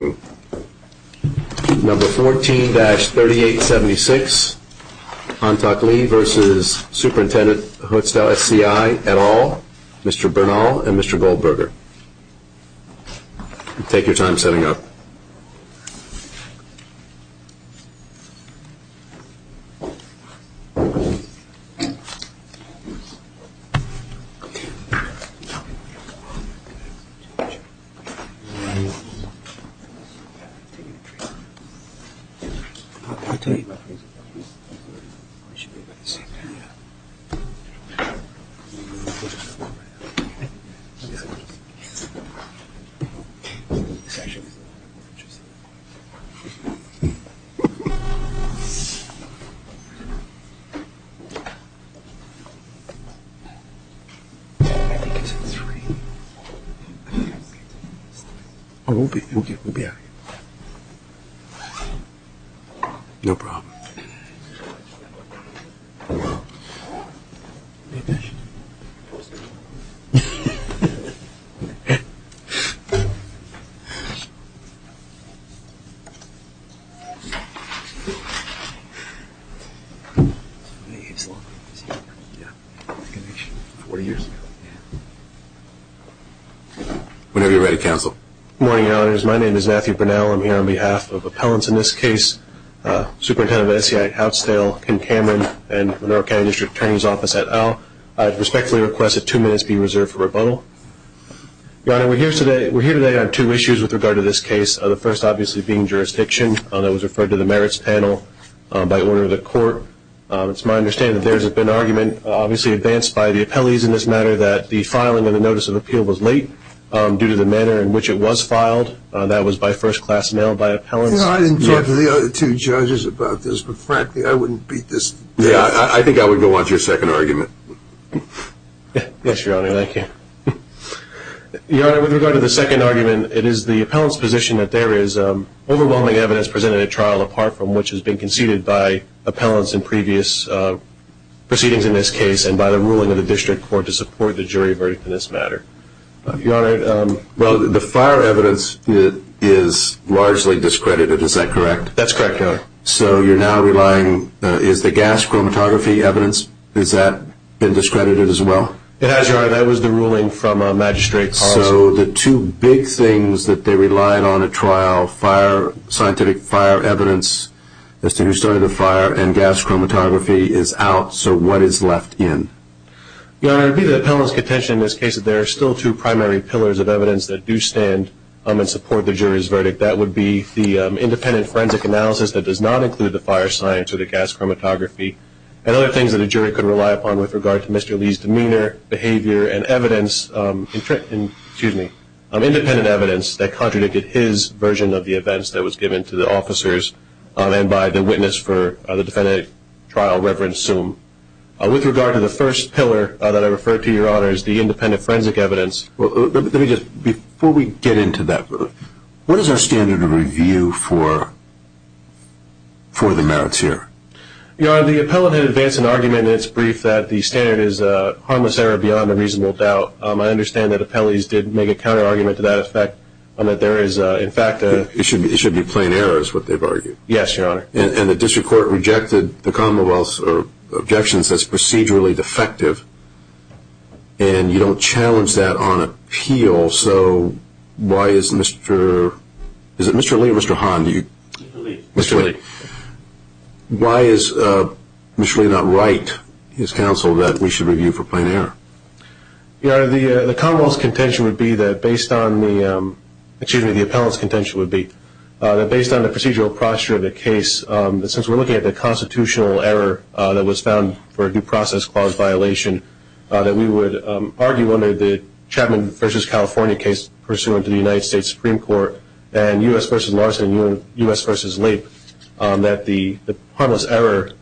at all, Mr. Bernal, and Mr. Goldberger, take your time setting up. I'm here on behalf of appellants in this case, Superintendent of SCI Houtzdale, Ken Cameron, and Monroe County District Attorney's Office at all. I respectfully request that two minutes be reserved for rebuttal. Your Honor, we're here today on two issues with regard to this case, the first obviously being jurisdiction. That was referred to the merits panel by order of the court. It's my understanding that there has been argument obviously advanced by the appellees in this matter that the filing of the notice of appeal was late due to the manner in which it was filed. That was by first class mail by appellants. I didn't talk to the other two judges about this, but frankly, I wouldn't beat this. Yeah, I think I would go on to your second argument. Yes, Your Honor, thank you. Your Honor, with regard to the second argument, it is the appellant's position that there is overwhelming evidence presented at trial apart from which has been conceded by appellants in previous proceedings in this case and by the ruling of the district court to support the jury verdict in this matter. Your Honor, the fire evidence is largely discredited, is that correct? That's correct, Your Honor. So you're now relying, is the gas chromatography evidence, has that been discredited as well? It has, Your Honor. That was the ruling from Magistrate Houtzdale. So the two big things that they relied on at trial, scientific fire evidence as to who started the fire, and gas chromatography is out, so what is left in? Your Honor, it would be the appellant's contention in this case that there are still two primary pillars of evidence that do stand and support the jury's verdict. That would be the independent forensic analysis that does not include the fire science or the gas chromatography, and other things that a jury could rely upon with regard to Mr. Lee's demeanor, behavior, and evidence, excuse me, independent evidence that contradicted his version of the events that was given to the officers and by the witness for the defendant at trial, Reverend Soome. With regard to the first pillar that I referred to, Your Honor, is the independent forensic evidence. Let me just, before we get into that, what is our standard of review for the merits here? Your Honor, the appellant had advanced an argument in its brief that the standard is harmless error beyond a reasonable doubt. I understand that appellees did make a counterargument to that effect, that there is in fact a It should be plain error is what they've argued. Yes, Your Honor. And the district court rejected the Commonwealth's objections as procedurally defective, and you don't challenge that on appeal, so why is Mr. Lee or Mr. Hahn? Mr. Lee. Mr. Lee. Why is Mr. Lee not right, his counsel, that we should review for plain error? Your Honor, the Commonwealth's contention would be that based on the, excuse me, the appellant's contention would be that based on the procedural posture of the case, since we're looking at the constitutional error that was found for a due process clause violation, that we would argue under the Chapman v. California case pursuant to the United States Supreme Court and U.S. v. Larson and U.S. v. Leib that the harmless error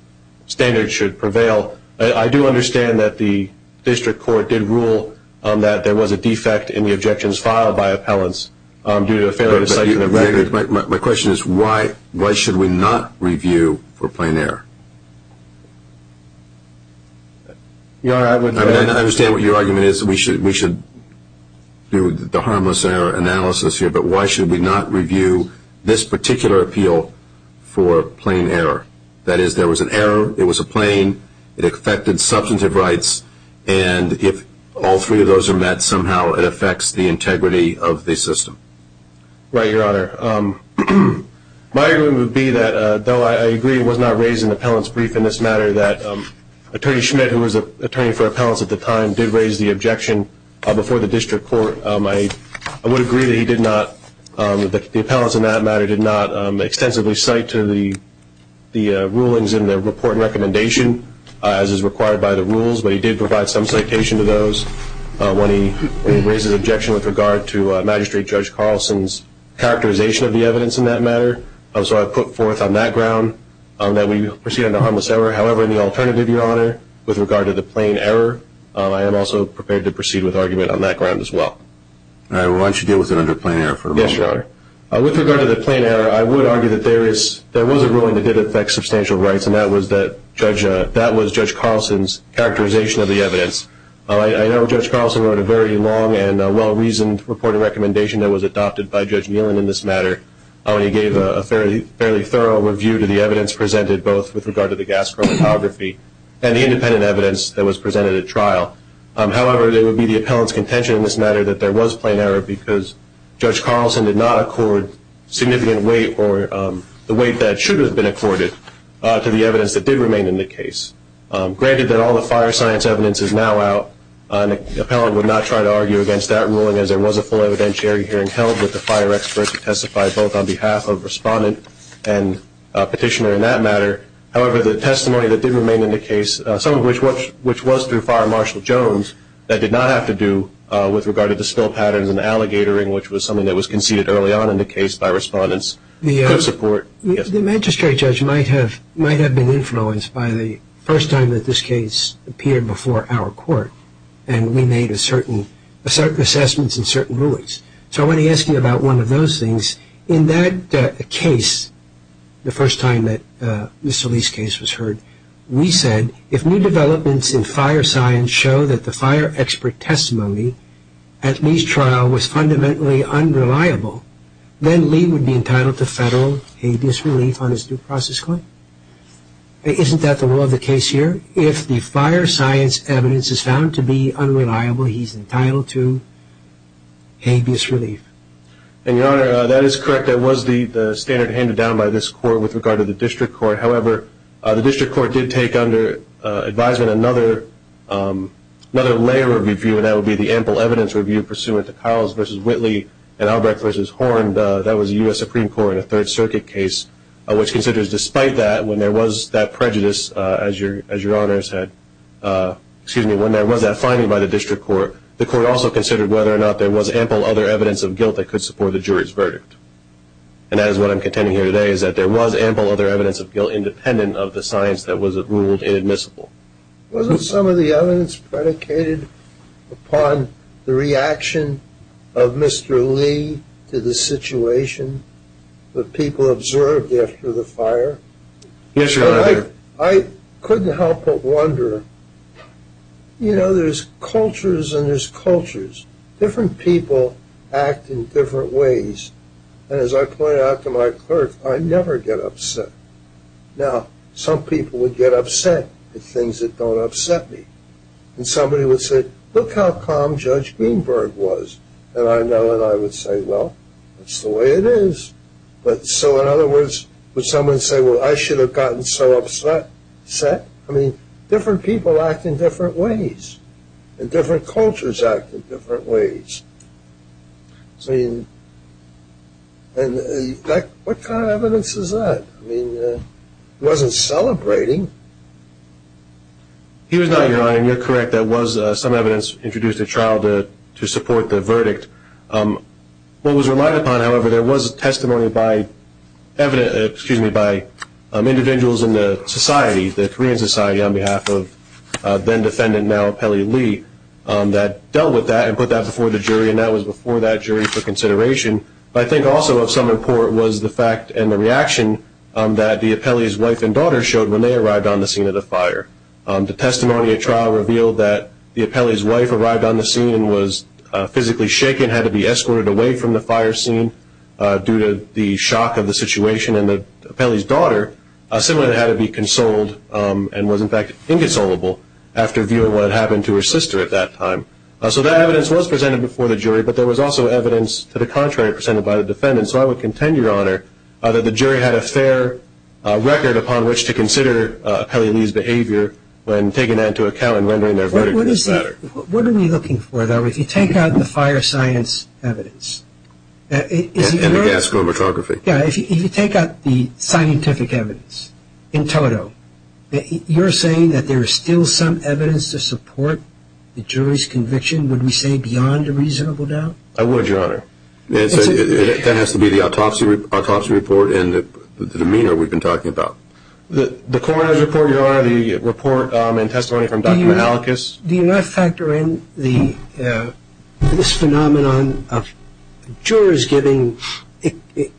standard should prevail. I do understand that the district court did rule that there was a defect in the objections filed by appellants due to a failure to cite an amendment. My question is why should we not review for plain error? I understand what your argument is that we should do the harmless error analysis here, but why should we not review this particular appeal for plain error? That is, there was an error, it was a plain, it affected substantive rights, and if all three of those are met, somehow it affects the integrity of the system. Right, Your Honor. My argument would be that, though I agree it was not raised in the appellant's brief in this matter, that Attorney Schmidt, who was an attorney for appellants at the time, did raise the objection before the district court. I would agree that he did not, the appellants in that matter, did not extensively cite the rulings in the report and recommendation as is required by the rules, but he did provide some citation to those when he raised his objection with regard to Magistrate Judge Carlson's characterization of the evidence in that matter. So I put forth on that ground that we proceed on the harmless error. However, in the alternative, Your Honor, with regard to the plain error, I am also prepared to proceed with argument on that ground as well. All right. Well, why don't you deal with it under plain error for a moment, Your Honor. Yes, Your Honor. With regard to the plain error, I would argue that there was a ruling that did affect substantial rights, and that was Judge Carlson's characterization of the evidence. I know Judge Carlson wrote a very long and well-reasoned report and recommendation that was adopted by Judge Nealon in this matter, and he gave a fairly thorough review to the evidence presented, both with regard to the gas chromatography and the independent evidence that was presented at trial. However, it would be the appellant's contention in this matter that there was plain error because Judge Carlson did not accord significant weight or the weight that should have been accorded to the evidence that did remain in the case. Granted that all the fire science evidence is now out, an appellant would not try to argue against that ruling as there was a full evidentiary hearing held with the fire experts who testified both on behalf of Respondent and Petitioner in that matter. However, the testimony that did remain in the case, some of which was through Fire Marshal Jones, that did not have to do with regard to the spill patterns and alligatoring, which was something that was conceded early on in the case by Respondent's good support. The magistrate judge might have been influenced by the first time that this case appeared before our court, and we made certain assessments and certain rulings. So I want to ask you about one of those things. In that case, the first time that Mr. Lee's case was heard, we said, if new developments in fire science show that the fire expert testimony at Lee's trial was fundamentally unreliable, then Lee would be entitled to federal habeas relief on his due process claim. Isn't that the rule of the case here? If the fire science evidence is found to be unreliable, he's entitled to habeas relief. And, Your Honor, that is correct. That was the standard handed down by this court with regard to the district court. However, the district court did take under advisement another layer of review, and that would be the ample evidence review pursuant to Carls v. Whitley and Albrecht v. Horn. That was the U.S. Supreme Court in a Third Circuit case, which considers despite that, when there was that finding by the district court, the court also considered whether or not there was ample other evidence of guilt that could support the jury's verdict. And that is what I'm contending here today, is that there was ample other evidence of guilt independent of the science that was ruled inadmissible. Wasn't some of the evidence predicated upon the reaction of Mr. Lee to the situation that people observed after the fire? Yes, Your Honor. I couldn't help but wonder, you know, there's cultures and there's cultures. Different people act in different ways. And as I pointed out to my clerk, I never get upset. Now, some people would get upset at things that don't upset me. And somebody would say, look how calm Judge Greenberg was. And I know that I would say, well, that's the way it is. But so in other words, would someone say, well, I should have gotten so upset? I mean, different people act in different ways. And different cultures act in different ways. I mean, what kind of evidence is that? I mean, he wasn't celebrating. He was not, Your Honor. And you're correct, there was some evidence introduced at trial to support the verdict. What was relied upon, however, there was testimony by individuals in the society, on behalf of then-defendant, now Appellee Lee, that dealt with that and put that before the jury, and that was before that jury for consideration. But I think also of some import was the fact and the reaction that the appellee's wife and daughter showed when they arrived on the scene of the fire. The testimony at trial revealed that the appellee's wife arrived on the scene and was physically shaken, had to be escorted away from the fire scene due to the shock of the situation, and the appellee's daughter similarly had to be consoled and was in fact inconsolable after viewing what had happened to her sister at that time. So that evidence was presented before the jury, but there was also evidence to the contrary presented by the defendant. So I would contend, Your Honor, that the jury had a fair record upon which to consider Appellee Lee's behavior when taking that into account and rendering their verdict in this matter. What are we looking for, though, if you take out the fire science evidence? And the gas chromatography. Yeah, if you take out the scientific evidence in total, you're saying that there is still some evidence to support the jury's conviction, would we say beyond a reasonable doubt? I would, Your Honor. That has to be the autopsy report and the demeanor we've been talking about. The coroner's report, Your Honor, the report and testimony from Dr. Malachis. Do you not factor in this phenomenon of jurors giving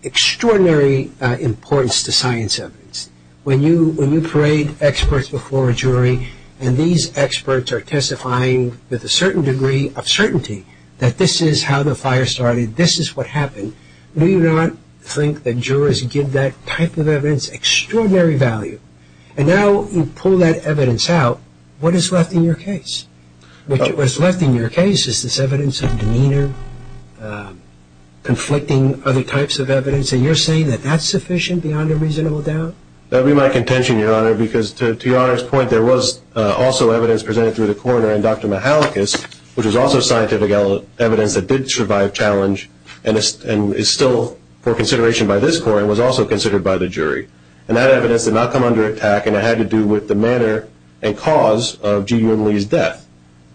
extraordinary importance to science evidence? When you parade experts before a jury and these experts are testifying with a certain degree of certainty that this is how the fire started, this is what happened, do you not think that jurors give that type of evidence extraordinary value? And now you pull that evidence out, what is left in your case? What is left in your case is this evidence of demeanor, conflicting other types of evidence, and you're saying that that's sufficient beyond a reasonable doubt? That would be my contention, Your Honor, because to Your Honor's point, there was also evidence presented through the coroner and Dr. Malachis, which was also scientific evidence that did survive challenge and is still for consideration by this court and was also considered by the jury. And that evidence did not come under attack, and it had to do with the manner and cause of G. Unley's death.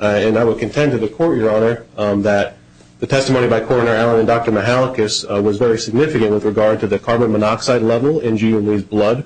And I would contend to the court, Your Honor, that the testimony by Coroner Allen and Dr. Malachis was very significant with regard to the carbon monoxide level in G. Unley's blood,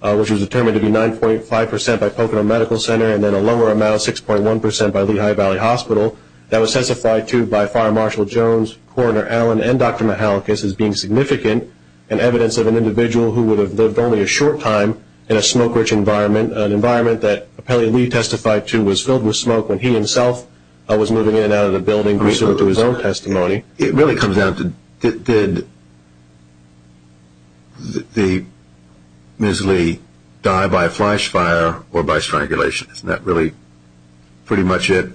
which was determined to be 9.5 percent by Pocono Medical Center and then a lower amount, 6.1 percent, by Lehigh Valley Hospital. That was testified to by Fire Marshal Jones, Coroner Allen, and Dr. Malachis as being significant and evidence of an individual who would have lived only a short time in a smoke-rich environment, an environment that Appellee Lee testified to was filled with smoke when he himself was moving in and out of the building, bringing it to his own testimony. It really comes down to did Ms. Lee die by a flash fire or by strangulation? Isn't that really pretty much it?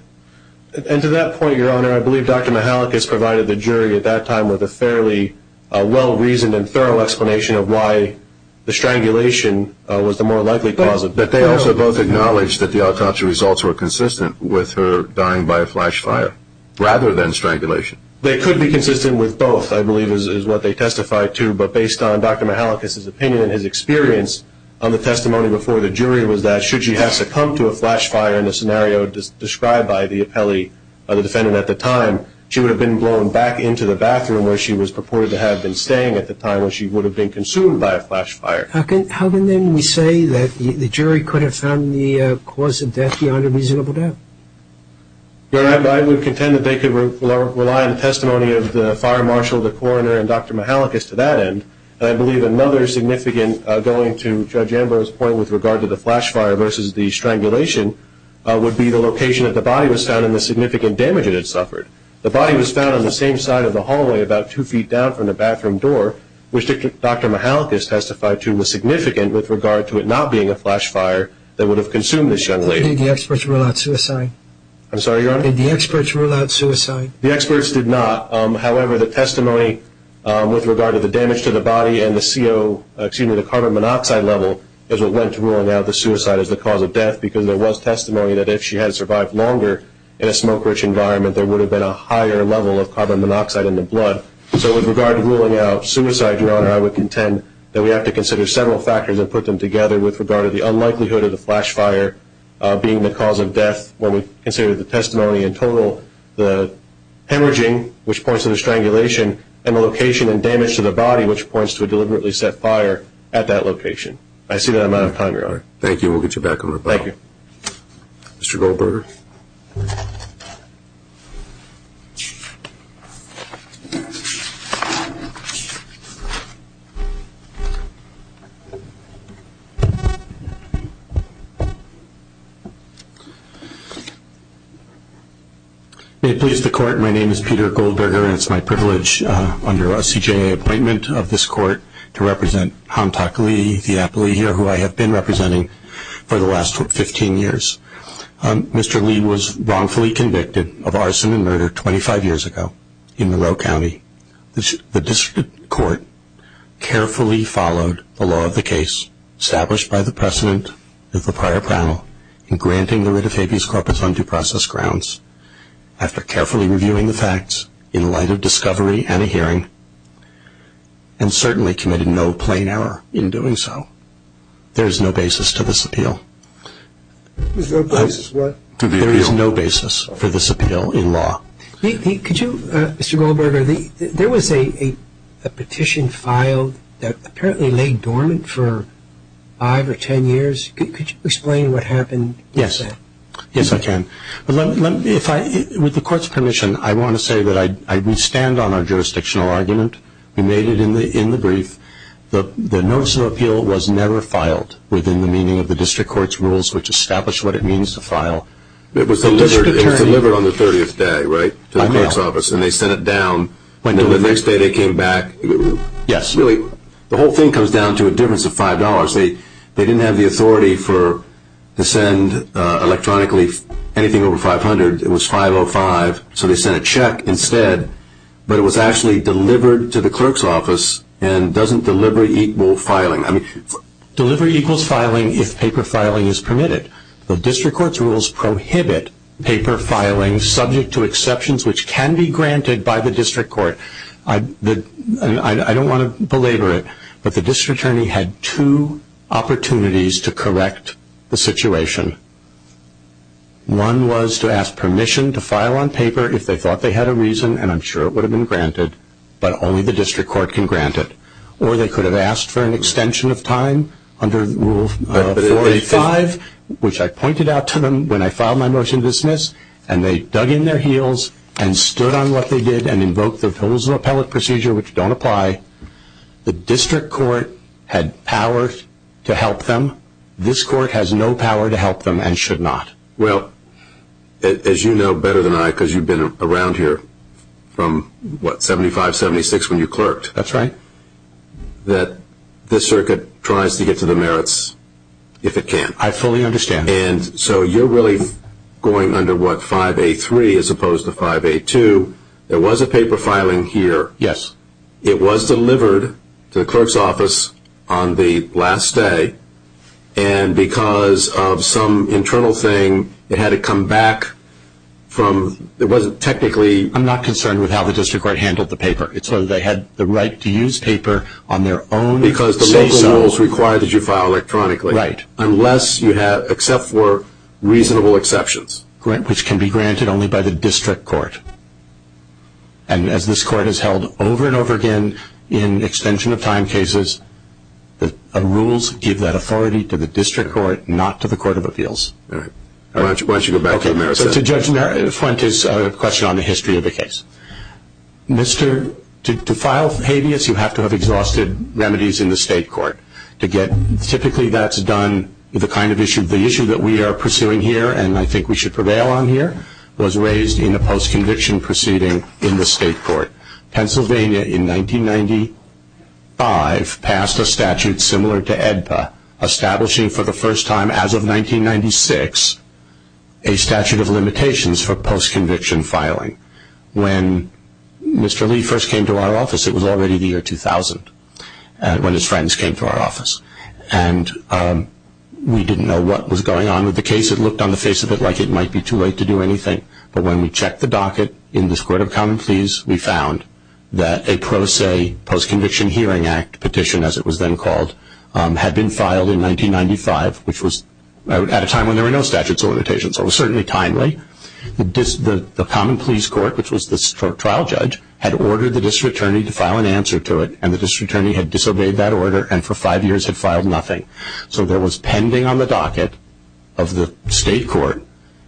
And to that point, Your Honor, I believe Dr. Malachis provided the jury at that time with a fairly well-reasoned and thorough explanation of why the strangulation was the more likely cause of death. But they also both acknowledged that the autopsy results were consistent with her dying by a flash fire rather than strangulation. They could be consistent with both, I believe, is what they testified to, but based on Dr. Malachis' opinion and his experience on the testimony before the jury was that should she have succumbed to a flash fire in the scenario described by the defendant at the time, she would have been blown back into the bathroom where she was purported to have been staying at the time when she would have been consumed by a flash fire. How can then we say that the jury could have found the cause of death beyond a reasonable doubt? Your Honor, I would contend that they could rely on the testimony of the fire marshal, the coroner, and Dr. Malachis to that end. I believe another significant going to Judge Ambrose's point with regard to the flash fire versus the strangulation would be the location that the body was found and the significant damage it had suffered. The body was found on the same side of the hallway about two feet down from the bathroom door, which Dr. Malachis testified to was significant with regard to it not being a flash fire that would have consumed this young lady. Did the experts rule out suicide? I'm sorry, Your Honor? Did the experts rule out suicide? The experts did not. However, the testimony with regard to the damage to the body and the carbon monoxide level is what went to ruling out the suicide as the cause of death because there was testimony that if she had survived longer in a smoke-rich environment, there would have been a higher level of carbon monoxide in the blood. So with regard to ruling out suicide, Your Honor, I would contend that we have to consider several factors and put them together with regard to the unlikelihood of the flash fire being the cause of death when we consider the testimony in total, the hemorrhaging, which points to the strangulation, and the location and damage to the body, which points to a deliberately set fire at that location. I see that I'm out of time, Your Honor. Thank you. We'll get you back on the record. Thank you. Mr. Goldberger. May it please the Court, my name is Peter Goldberger, and it's my privilege under a CJA appointment of this Court to represent Hamtak Lee, the appellee here who I have been representing for the last 15 years. Mr. Lee was wrongfully convicted of arson and murder 25 years ago in Monroe County. The District Court carefully followed the law of the case established by the precedent of the prior panel in granting the writ of habeas corpus on due process grounds. After carefully reviewing the facts in light of discovery and a hearing and certainly committed no plain error in doing so, there is no basis to this appeal. There's no basis what? There is no basis for this appeal in law. Could you, Mr. Goldberger, there was a petition filed that apparently lay dormant for five or ten years. Could you explain what happened with that? Yes. Yes, I can. With the Court's permission, I want to say that I stand on our jurisdictional argument. We made it in the brief. The notice of appeal was never filed within the meaning of the District Court's rules which established what it means to file. It was delivered on the 30th day, right, to the Court's office, and they sent it down. The next day they came back. Yes. Really, the whole thing comes down to a difference of $5. They didn't have the authority to send electronically anything over $500. It was $505, so they sent a check instead, but it was actually delivered to the Clerk's office and doesn't delivery equal filing. Delivery equals filing if paper filing is permitted. The District Court's rules prohibit paper filing subject to exceptions which can be granted by the District Court. I don't want to belabor it, but the District Attorney had two opportunities to correct the situation. One was to ask permission to file on paper if they thought they had a reason, and I'm sure it would have been granted, but only the District Court can grant it. Or they could have asked for an extension of time under Rule 45, which I pointed out to them when I filed my motion to dismiss, and they dug in their heels and stood on what they did and invoked the Fills of Appellate Procedure, which don't apply. The District Court had power to help them. This Court has no power to help them and should not. Well, as you know better than I because you've been around here from, what, 75, 76 when you clerked? That's right. That this Circuit tries to get to the merits if it can. I fully understand. And so you're really going under, what, 5A3 as opposed to 5A2. There was a paper filing here. Yes. It was delivered to the clerk's office on the last day, and because of some internal thing, it had to come back from—it wasn't technically— I'm not concerned with how the District Court handled the paper. It's whether they had the right to use paper on their own say-so. Because the local rules require that you file electronically. Right. Unless you have—except for reasonable exceptions. Right, which can be granted only by the District Court. And as this Court has held over and over again in extension of time cases, the rules give that authority to the District Court, not to the Court of Appeals. All right. Why don't you go back to the merits? Okay. So to Judge Fuentes' question on the history of the case. Mr.—to file habeas, you have to have exhausted remedies in the State Court. Typically that's done—the kind of issue—the issue that we are pursuing here and I think we should prevail on here was raised in a post-conviction proceeding in the State Court. Pennsylvania in 1995 passed a statute similar to AEDPA, establishing for the first time as of 1996 a statute of limitations for post-conviction filing. When Mr. Lee first came to our office, it was already the year 2000, when his friends came to our office. And we didn't know what was going on with the case. It looked on the face of it like it might be too late to do anything. But when we checked the docket in this Court of Common Pleas, we found that a pro se post-conviction hearing act petition, as it was then called, had been filed in 1995, which was at a time when there were no statutes of limitations. So it was certainly timely. The Common Pleas Court, which was the trial judge, had ordered the district attorney to file an answer to it, and the district attorney had disobeyed that order and for five years had filed nothing. So there was pending on the docket of the State Court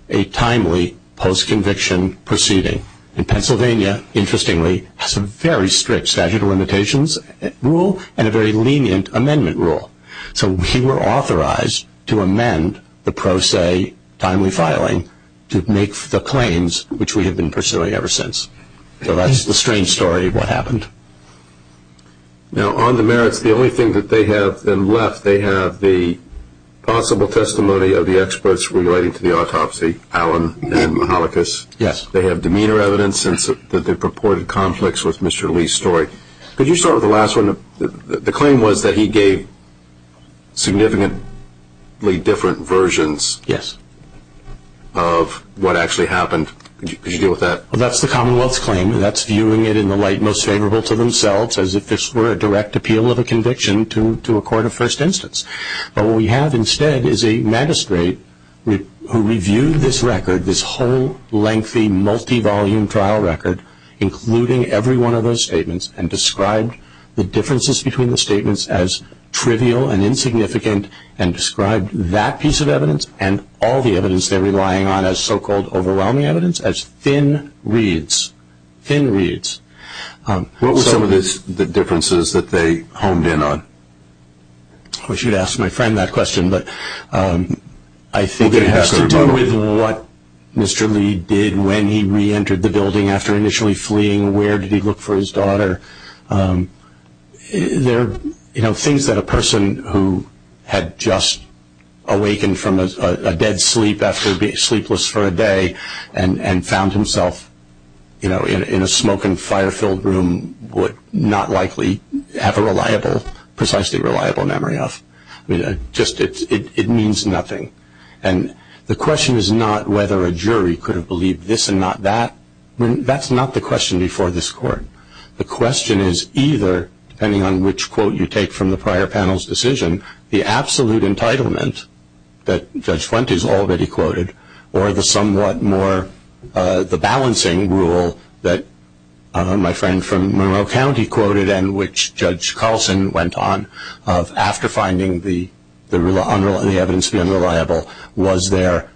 a timely post-conviction proceeding. And Pennsylvania, interestingly, has a very strict statute of limitations rule and a very lenient amendment rule. So we were authorized to amend the pro se timely filing to make the claims, which we have been pursuing ever since. So that's the strange story of what happened. Now, on the merits, the only thing that they have left, they have the possible testimony of the experts relating to the autopsy, Allen and Mihalikas. Yes. They have demeanor evidence that they purported conflicts with Mr. Lee's story. Could you start with the last one? The claim was that he gave significantly different versions of what actually happened. Could you deal with that? Well, that's the Commonwealth's claim. That's viewing it in the light most favorable to themselves, as if this were a direct appeal of a conviction to a court of first instance. But what we have instead is a magistrate who reviewed this record, this whole lengthy multi-volume trial record, including every one of those statements, and described the differences between the statements as trivial and insignificant and described that piece of evidence and all the evidence they're relying on as so-called overwhelming evidence as thin reeds, thin reeds. What were some of the differences that they honed in on? I wish you'd asked my friend that question, but I think it has to do with what Mr. Lee did when he reentered the building after initially fleeing. Where did he look for his daughter? There are things that a person who had just awakened from a dead sleep after being sleepless for a day and found himself in a smoke- and fire-filled room would not likely have a precisely reliable memory of. It means nothing. And the question is not whether a jury could have believed this and not that. That's not the question before this court. The question is either, depending on which quote you take from the prior panel's decision, the absolute entitlement that Judge Flint has already quoted or the balancing rule that my friend from Monroe County quoted and which Judge Carlson went on of after finding the evidence to be unreliable, was there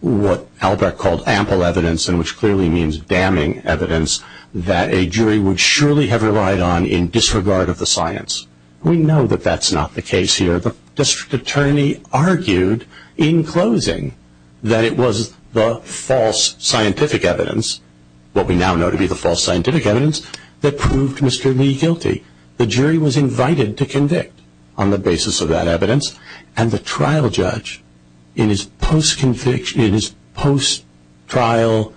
what Albrecht called ample evidence, and which clearly means damning evidence, that a jury would surely have relied on in disregard of the science. We know that that's not the case here. The District Attorney argued in closing that it was the false scientific evidence, what we now know to be the false scientific evidence, that proved Mr. Lee guilty. The jury was invited to convict on the basis of that evidence, and the trial judge in his post-trial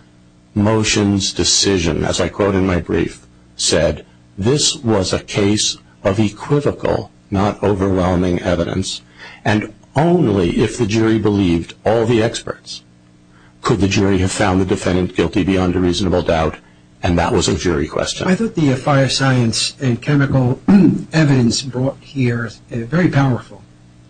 motions decision, as I quote in my brief, said, this was a case of equivocal, not overwhelming evidence, and only if the jury believed all the experts could the jury have found the defendant guilty beyond a reasonable doubt, and that was a jury question. I thought the fire science and chemical evidence brought here is very powerful,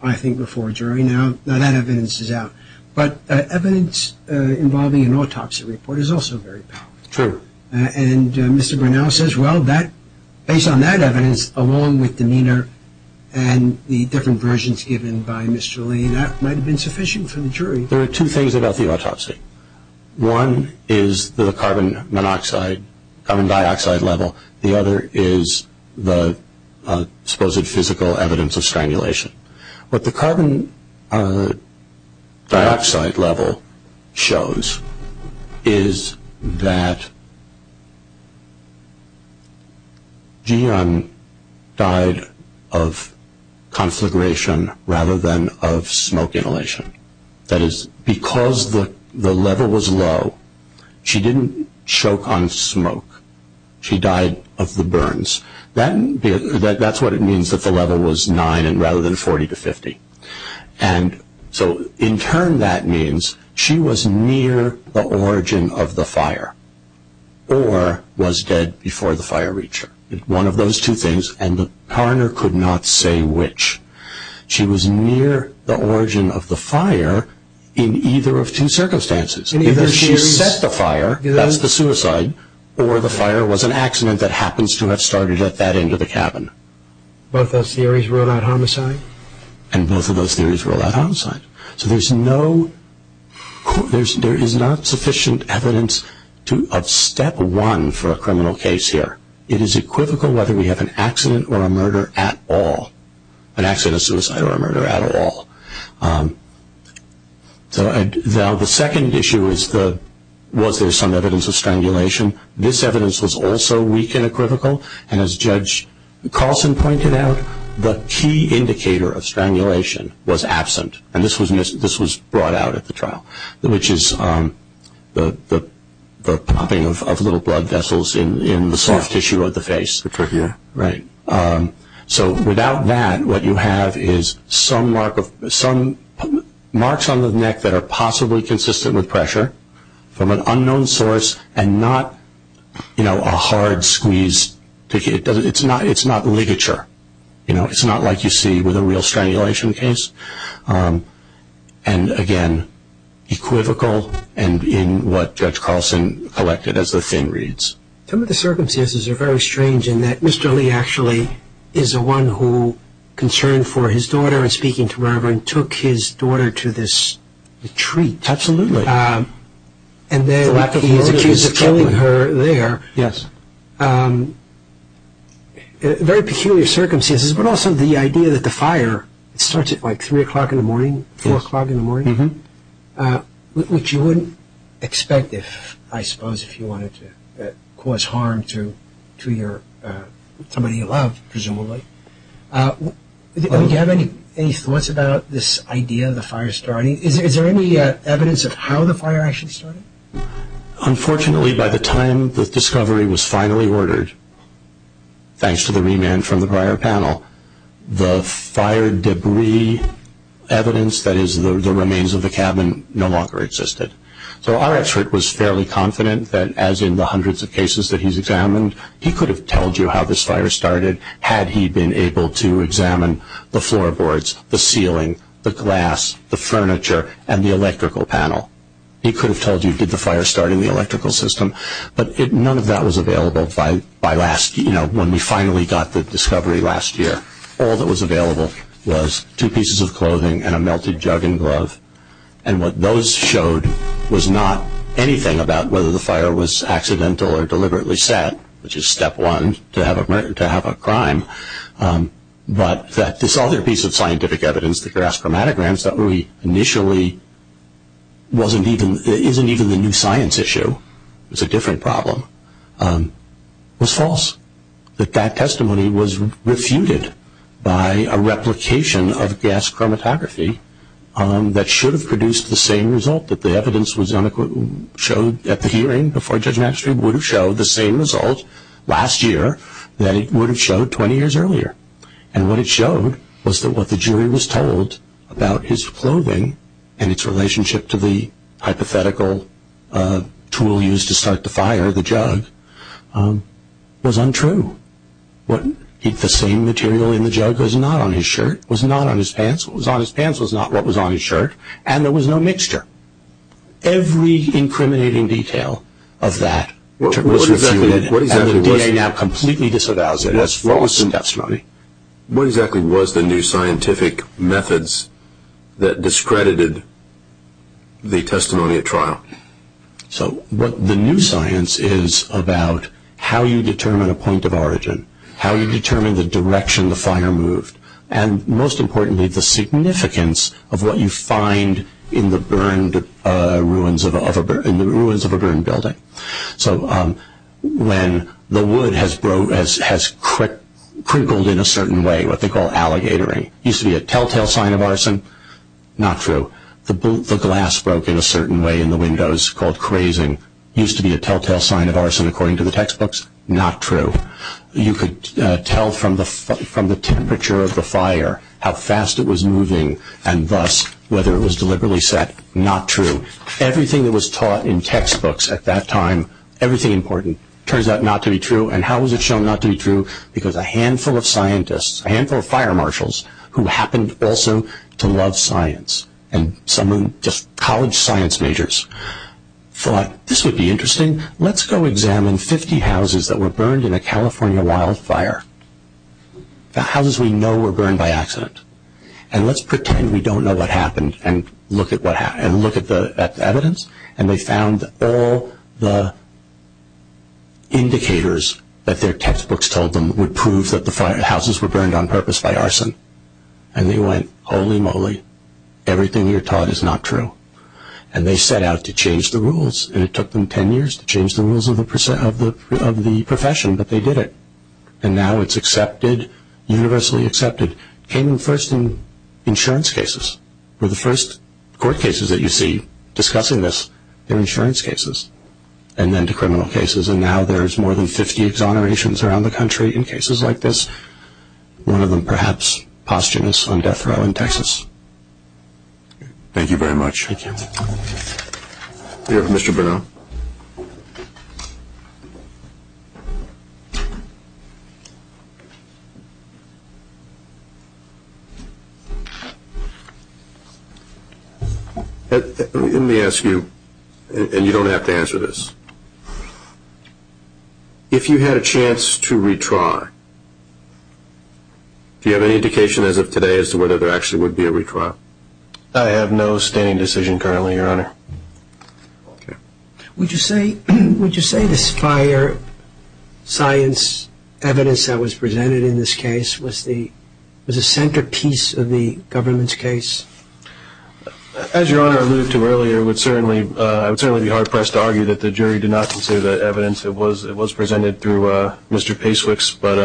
I think, before a jury. Now, that evidence is out, but evidence involving an autopsy report is also very powerful. True. And Mr. Grinnell says, well, based on that evidence, along with demeanor and the different versions given by Mr. Lee, that might have been sufficient for the jury. There are two things about the autopsy. One is the carbon monoxide, carbon dioxide level. The other is the supposed physical evidence of strangulation. What the carbon dioxide level shows is that Gian died of conflagration rather than of smoke inhalation. That is, because the level was low, she didn't choke on smoke. She died of the burns. That's what it means that the level was 9 rather than 40 to 50. And so, in turn, that means she was near the origin of the fire or was dead before the fire reached her. One of those two things, and the coroner could not say which. She was near the origin of the fire in either of two circumstances. Either she set the fire, that's the suicide, or the fire was an accident that happens to have started at that end of the cabin. Both those theories rule out homicide? And both of those theories rule out homicide. So there is not sufficient evidence of step one for a criminal case here. It is equivocal whether we have an accident or a murder at all. An accident, a suicide, or a murder at all. Now the second issue is was there some evidence of strangulation? This evidence was also weak and equivocal. And as Judge Carlson pointed out, the key indicator of strangulation was absent. And this was brought out at the trial, which is the popping of little blood vessels in the soft tissue of the face. The trachea. Right. So without that, what you have is some marks on the neck that are possibly consistent with pressure from an unknown source and not a hard squeeze. It's not ligature. It's not like you see with a real strangulation case. And again, equivocal in what Judge Carlson collected as the thin reads. Some of the circumstances are very strange in that Mr. Lee actually is the one who, concerned for his daughter and speaking to Reverend, took his daughter to this retreat. Absolutely. And then he's accused of killing her there. Yes. Very peculiar circumstances, but also the idea that the fire starts at like 3 o'clock in the morning, 4 o'clock in the morning, which you wouldn't expect, I suppose, if you wanted to cause harm to somebody you love, presumably. Do you have any thoughts about this idea of the fire starting? Is there any evidence of how the fire actually started? Unfortunately, by the time the discovery was finally ordered, thanks to the remand from the prior panel, the fire debris evidence, that is the remains of the cabin, no longer existed. So our expert was fairly confident that, as in the hundreds of cases that he's examined, he could have told you how this fire started had he been able to examine the floorboards, the ceiling, the glass, the furniture, and the electrical panel. He could have told you, did the fire start in the electrical system? But none of that was available when we finally got the discovery last year. All that was available was two pieces of clothing and a melted jug and glove, and what those showed was not anything about whether the fire was accidental or deliberately set, which is step one to have a crime, but that this other piece of scientific evidence, the gas chromatograms, that initially isn't even the new science issue, it's a different problem, was false. That that testimony was refuted by a replication of gas chromatography that should have produced the same result that the evidence was unequivocally showed at the hearing before Judge Maxfield would have showed, the same result last year that it would have showed 20 years earlier. And what it showed was that what the jury was told about his clothing and its relationship to the hypothetical tool used to start the fire, the jug, was untrue. The same material in the jug was not on his shirt, was not on his pants, what was on his pants was not what was on his shirt, and there was no mixture. Every incriminating detail of that was refuted, and the DA now completely disavows it as false testimony. What exactly was the new scientific methods that discredited the testimony at trial? So the new science is about how you determine a point of origin, how you determine the direction the fire moved, and most importantly the significance of what you find in the ruins of a burned building. So when the wood has crinkled in a certain way, what they call alligatoring, used to be a telltale sign of arson, not true. The glass broke in a certain way in the windows, called crazing, used to be a telltale sign of arson according to the textbooks, not true. You could tell from the temperature of the fire how fast it was moving, and thus whether it was deliberately set, not true. Everything that was taught in textbooks at that time, everything important, turns out not to be true, and how was it shown not to be true? Because a handful of scientists, a handful of fire marshals, who happened also to love science, and some were just college science majors, thought this would be interesting, let's go examine 50 houses that were burned in a California wildfire. The houses we know were burned by accident, and let's pretend we don't know what happened and look at the evidence, and they found all the indicators that their textbooks told them would prove that the houses were burned on purpose by arson. And they went, holy moly, everything you're taught is not true. And they set out to change the rules, and it took them ten years to change the rules of the profession, but they did it. And now it's accepted, universally accepted. It came first in insurance cases, where the first court cases that you see discussing this are insurance cases, and then to criminal cases, and now there's more than 50 exonerations around the country in cases like this, one of them perhaps posthumous on death row in Texas. Thank you very much. Thank you. We have Mr. Brunel. Let me ask you, and you don't have to answer this. If you had a chance to retry, do you have any indication as of today as to whether there actually would be a retrial? I have no standing decision currently, Your Honor. Would you say this fire science evidence that was presented in this case was the centerpiece of the government's case? As Your Honor alluded to earlier, I would certainly be hard-pressed to argue that the jury did not consider that evidence. It was presented through Mr. Pacewicz. But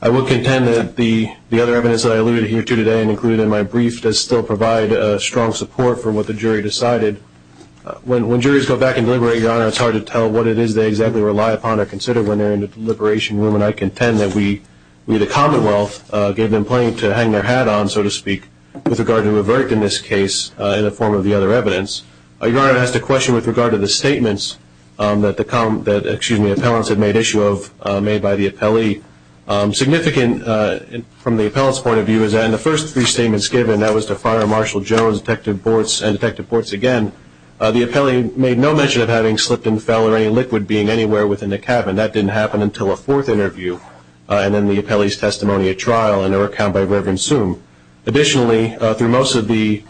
I will contend that the other evidence that I alluded to here today and included in my brief does still provide strong support for what the jury decided. When juries go back and deliberate, Your Honor, it's hard to tell what it is they exactly rely upon or consider when they're in the deliberation room, and I contend that we at the Commonwealth gave them plenty to hang their hat on, so to speak, with regard to a verdict in this case in the form of the other evidence. Your Honor has to question with regard to the statements that the appellants had made issue of, made by the appellee. Significant from the appellant's point of view is that in the first three statements given, that was to fire Marshal Jones, Detective Bortz, and Detective Bortz again, the appellee made no mention of having slipped and fell or any liquid being anywhere within the cabin. That didn't happen until a fourth interview and then the appellee's testimony at trial and her account by Reverend Soome. Additionally, through most of the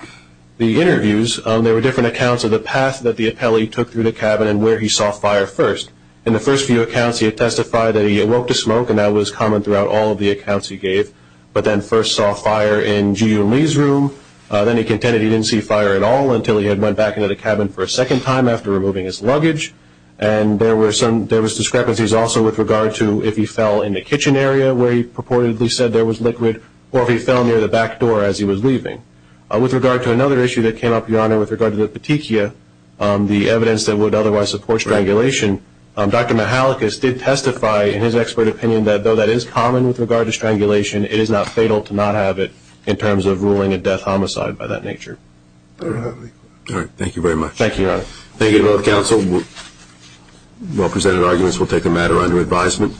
interviews, there were different accounts of the path that the appellee took through the cabin and where he saw fire first. In the first few accounts, he testified that he awoke to smoke and that was common throughout all of the accounts he gave, but then first saw fire in G.U. Lee's room. Then he contended he didn't see fire at all until he had went back into the cabin for a second time after removing his luggage. And there was discrepancies also with regard to if he fell in the kitchen area where he purportedly said there was liquid or if he fell near the back door as he was leaving. With regard to another issue that came up, Your Honor, with regard to the petechia, the evidence that would otherwise support strangulation, Dr. Mihalikas did testify in his expert opinion that though that is common with regard to strangulation, it is not fatal to not have it in terms of ruling a death homicide by that nature. All right. Thank you very much. Thank you, Your Honor. Thank you to both counsel. Well-presented arguments will take the matter under advisement.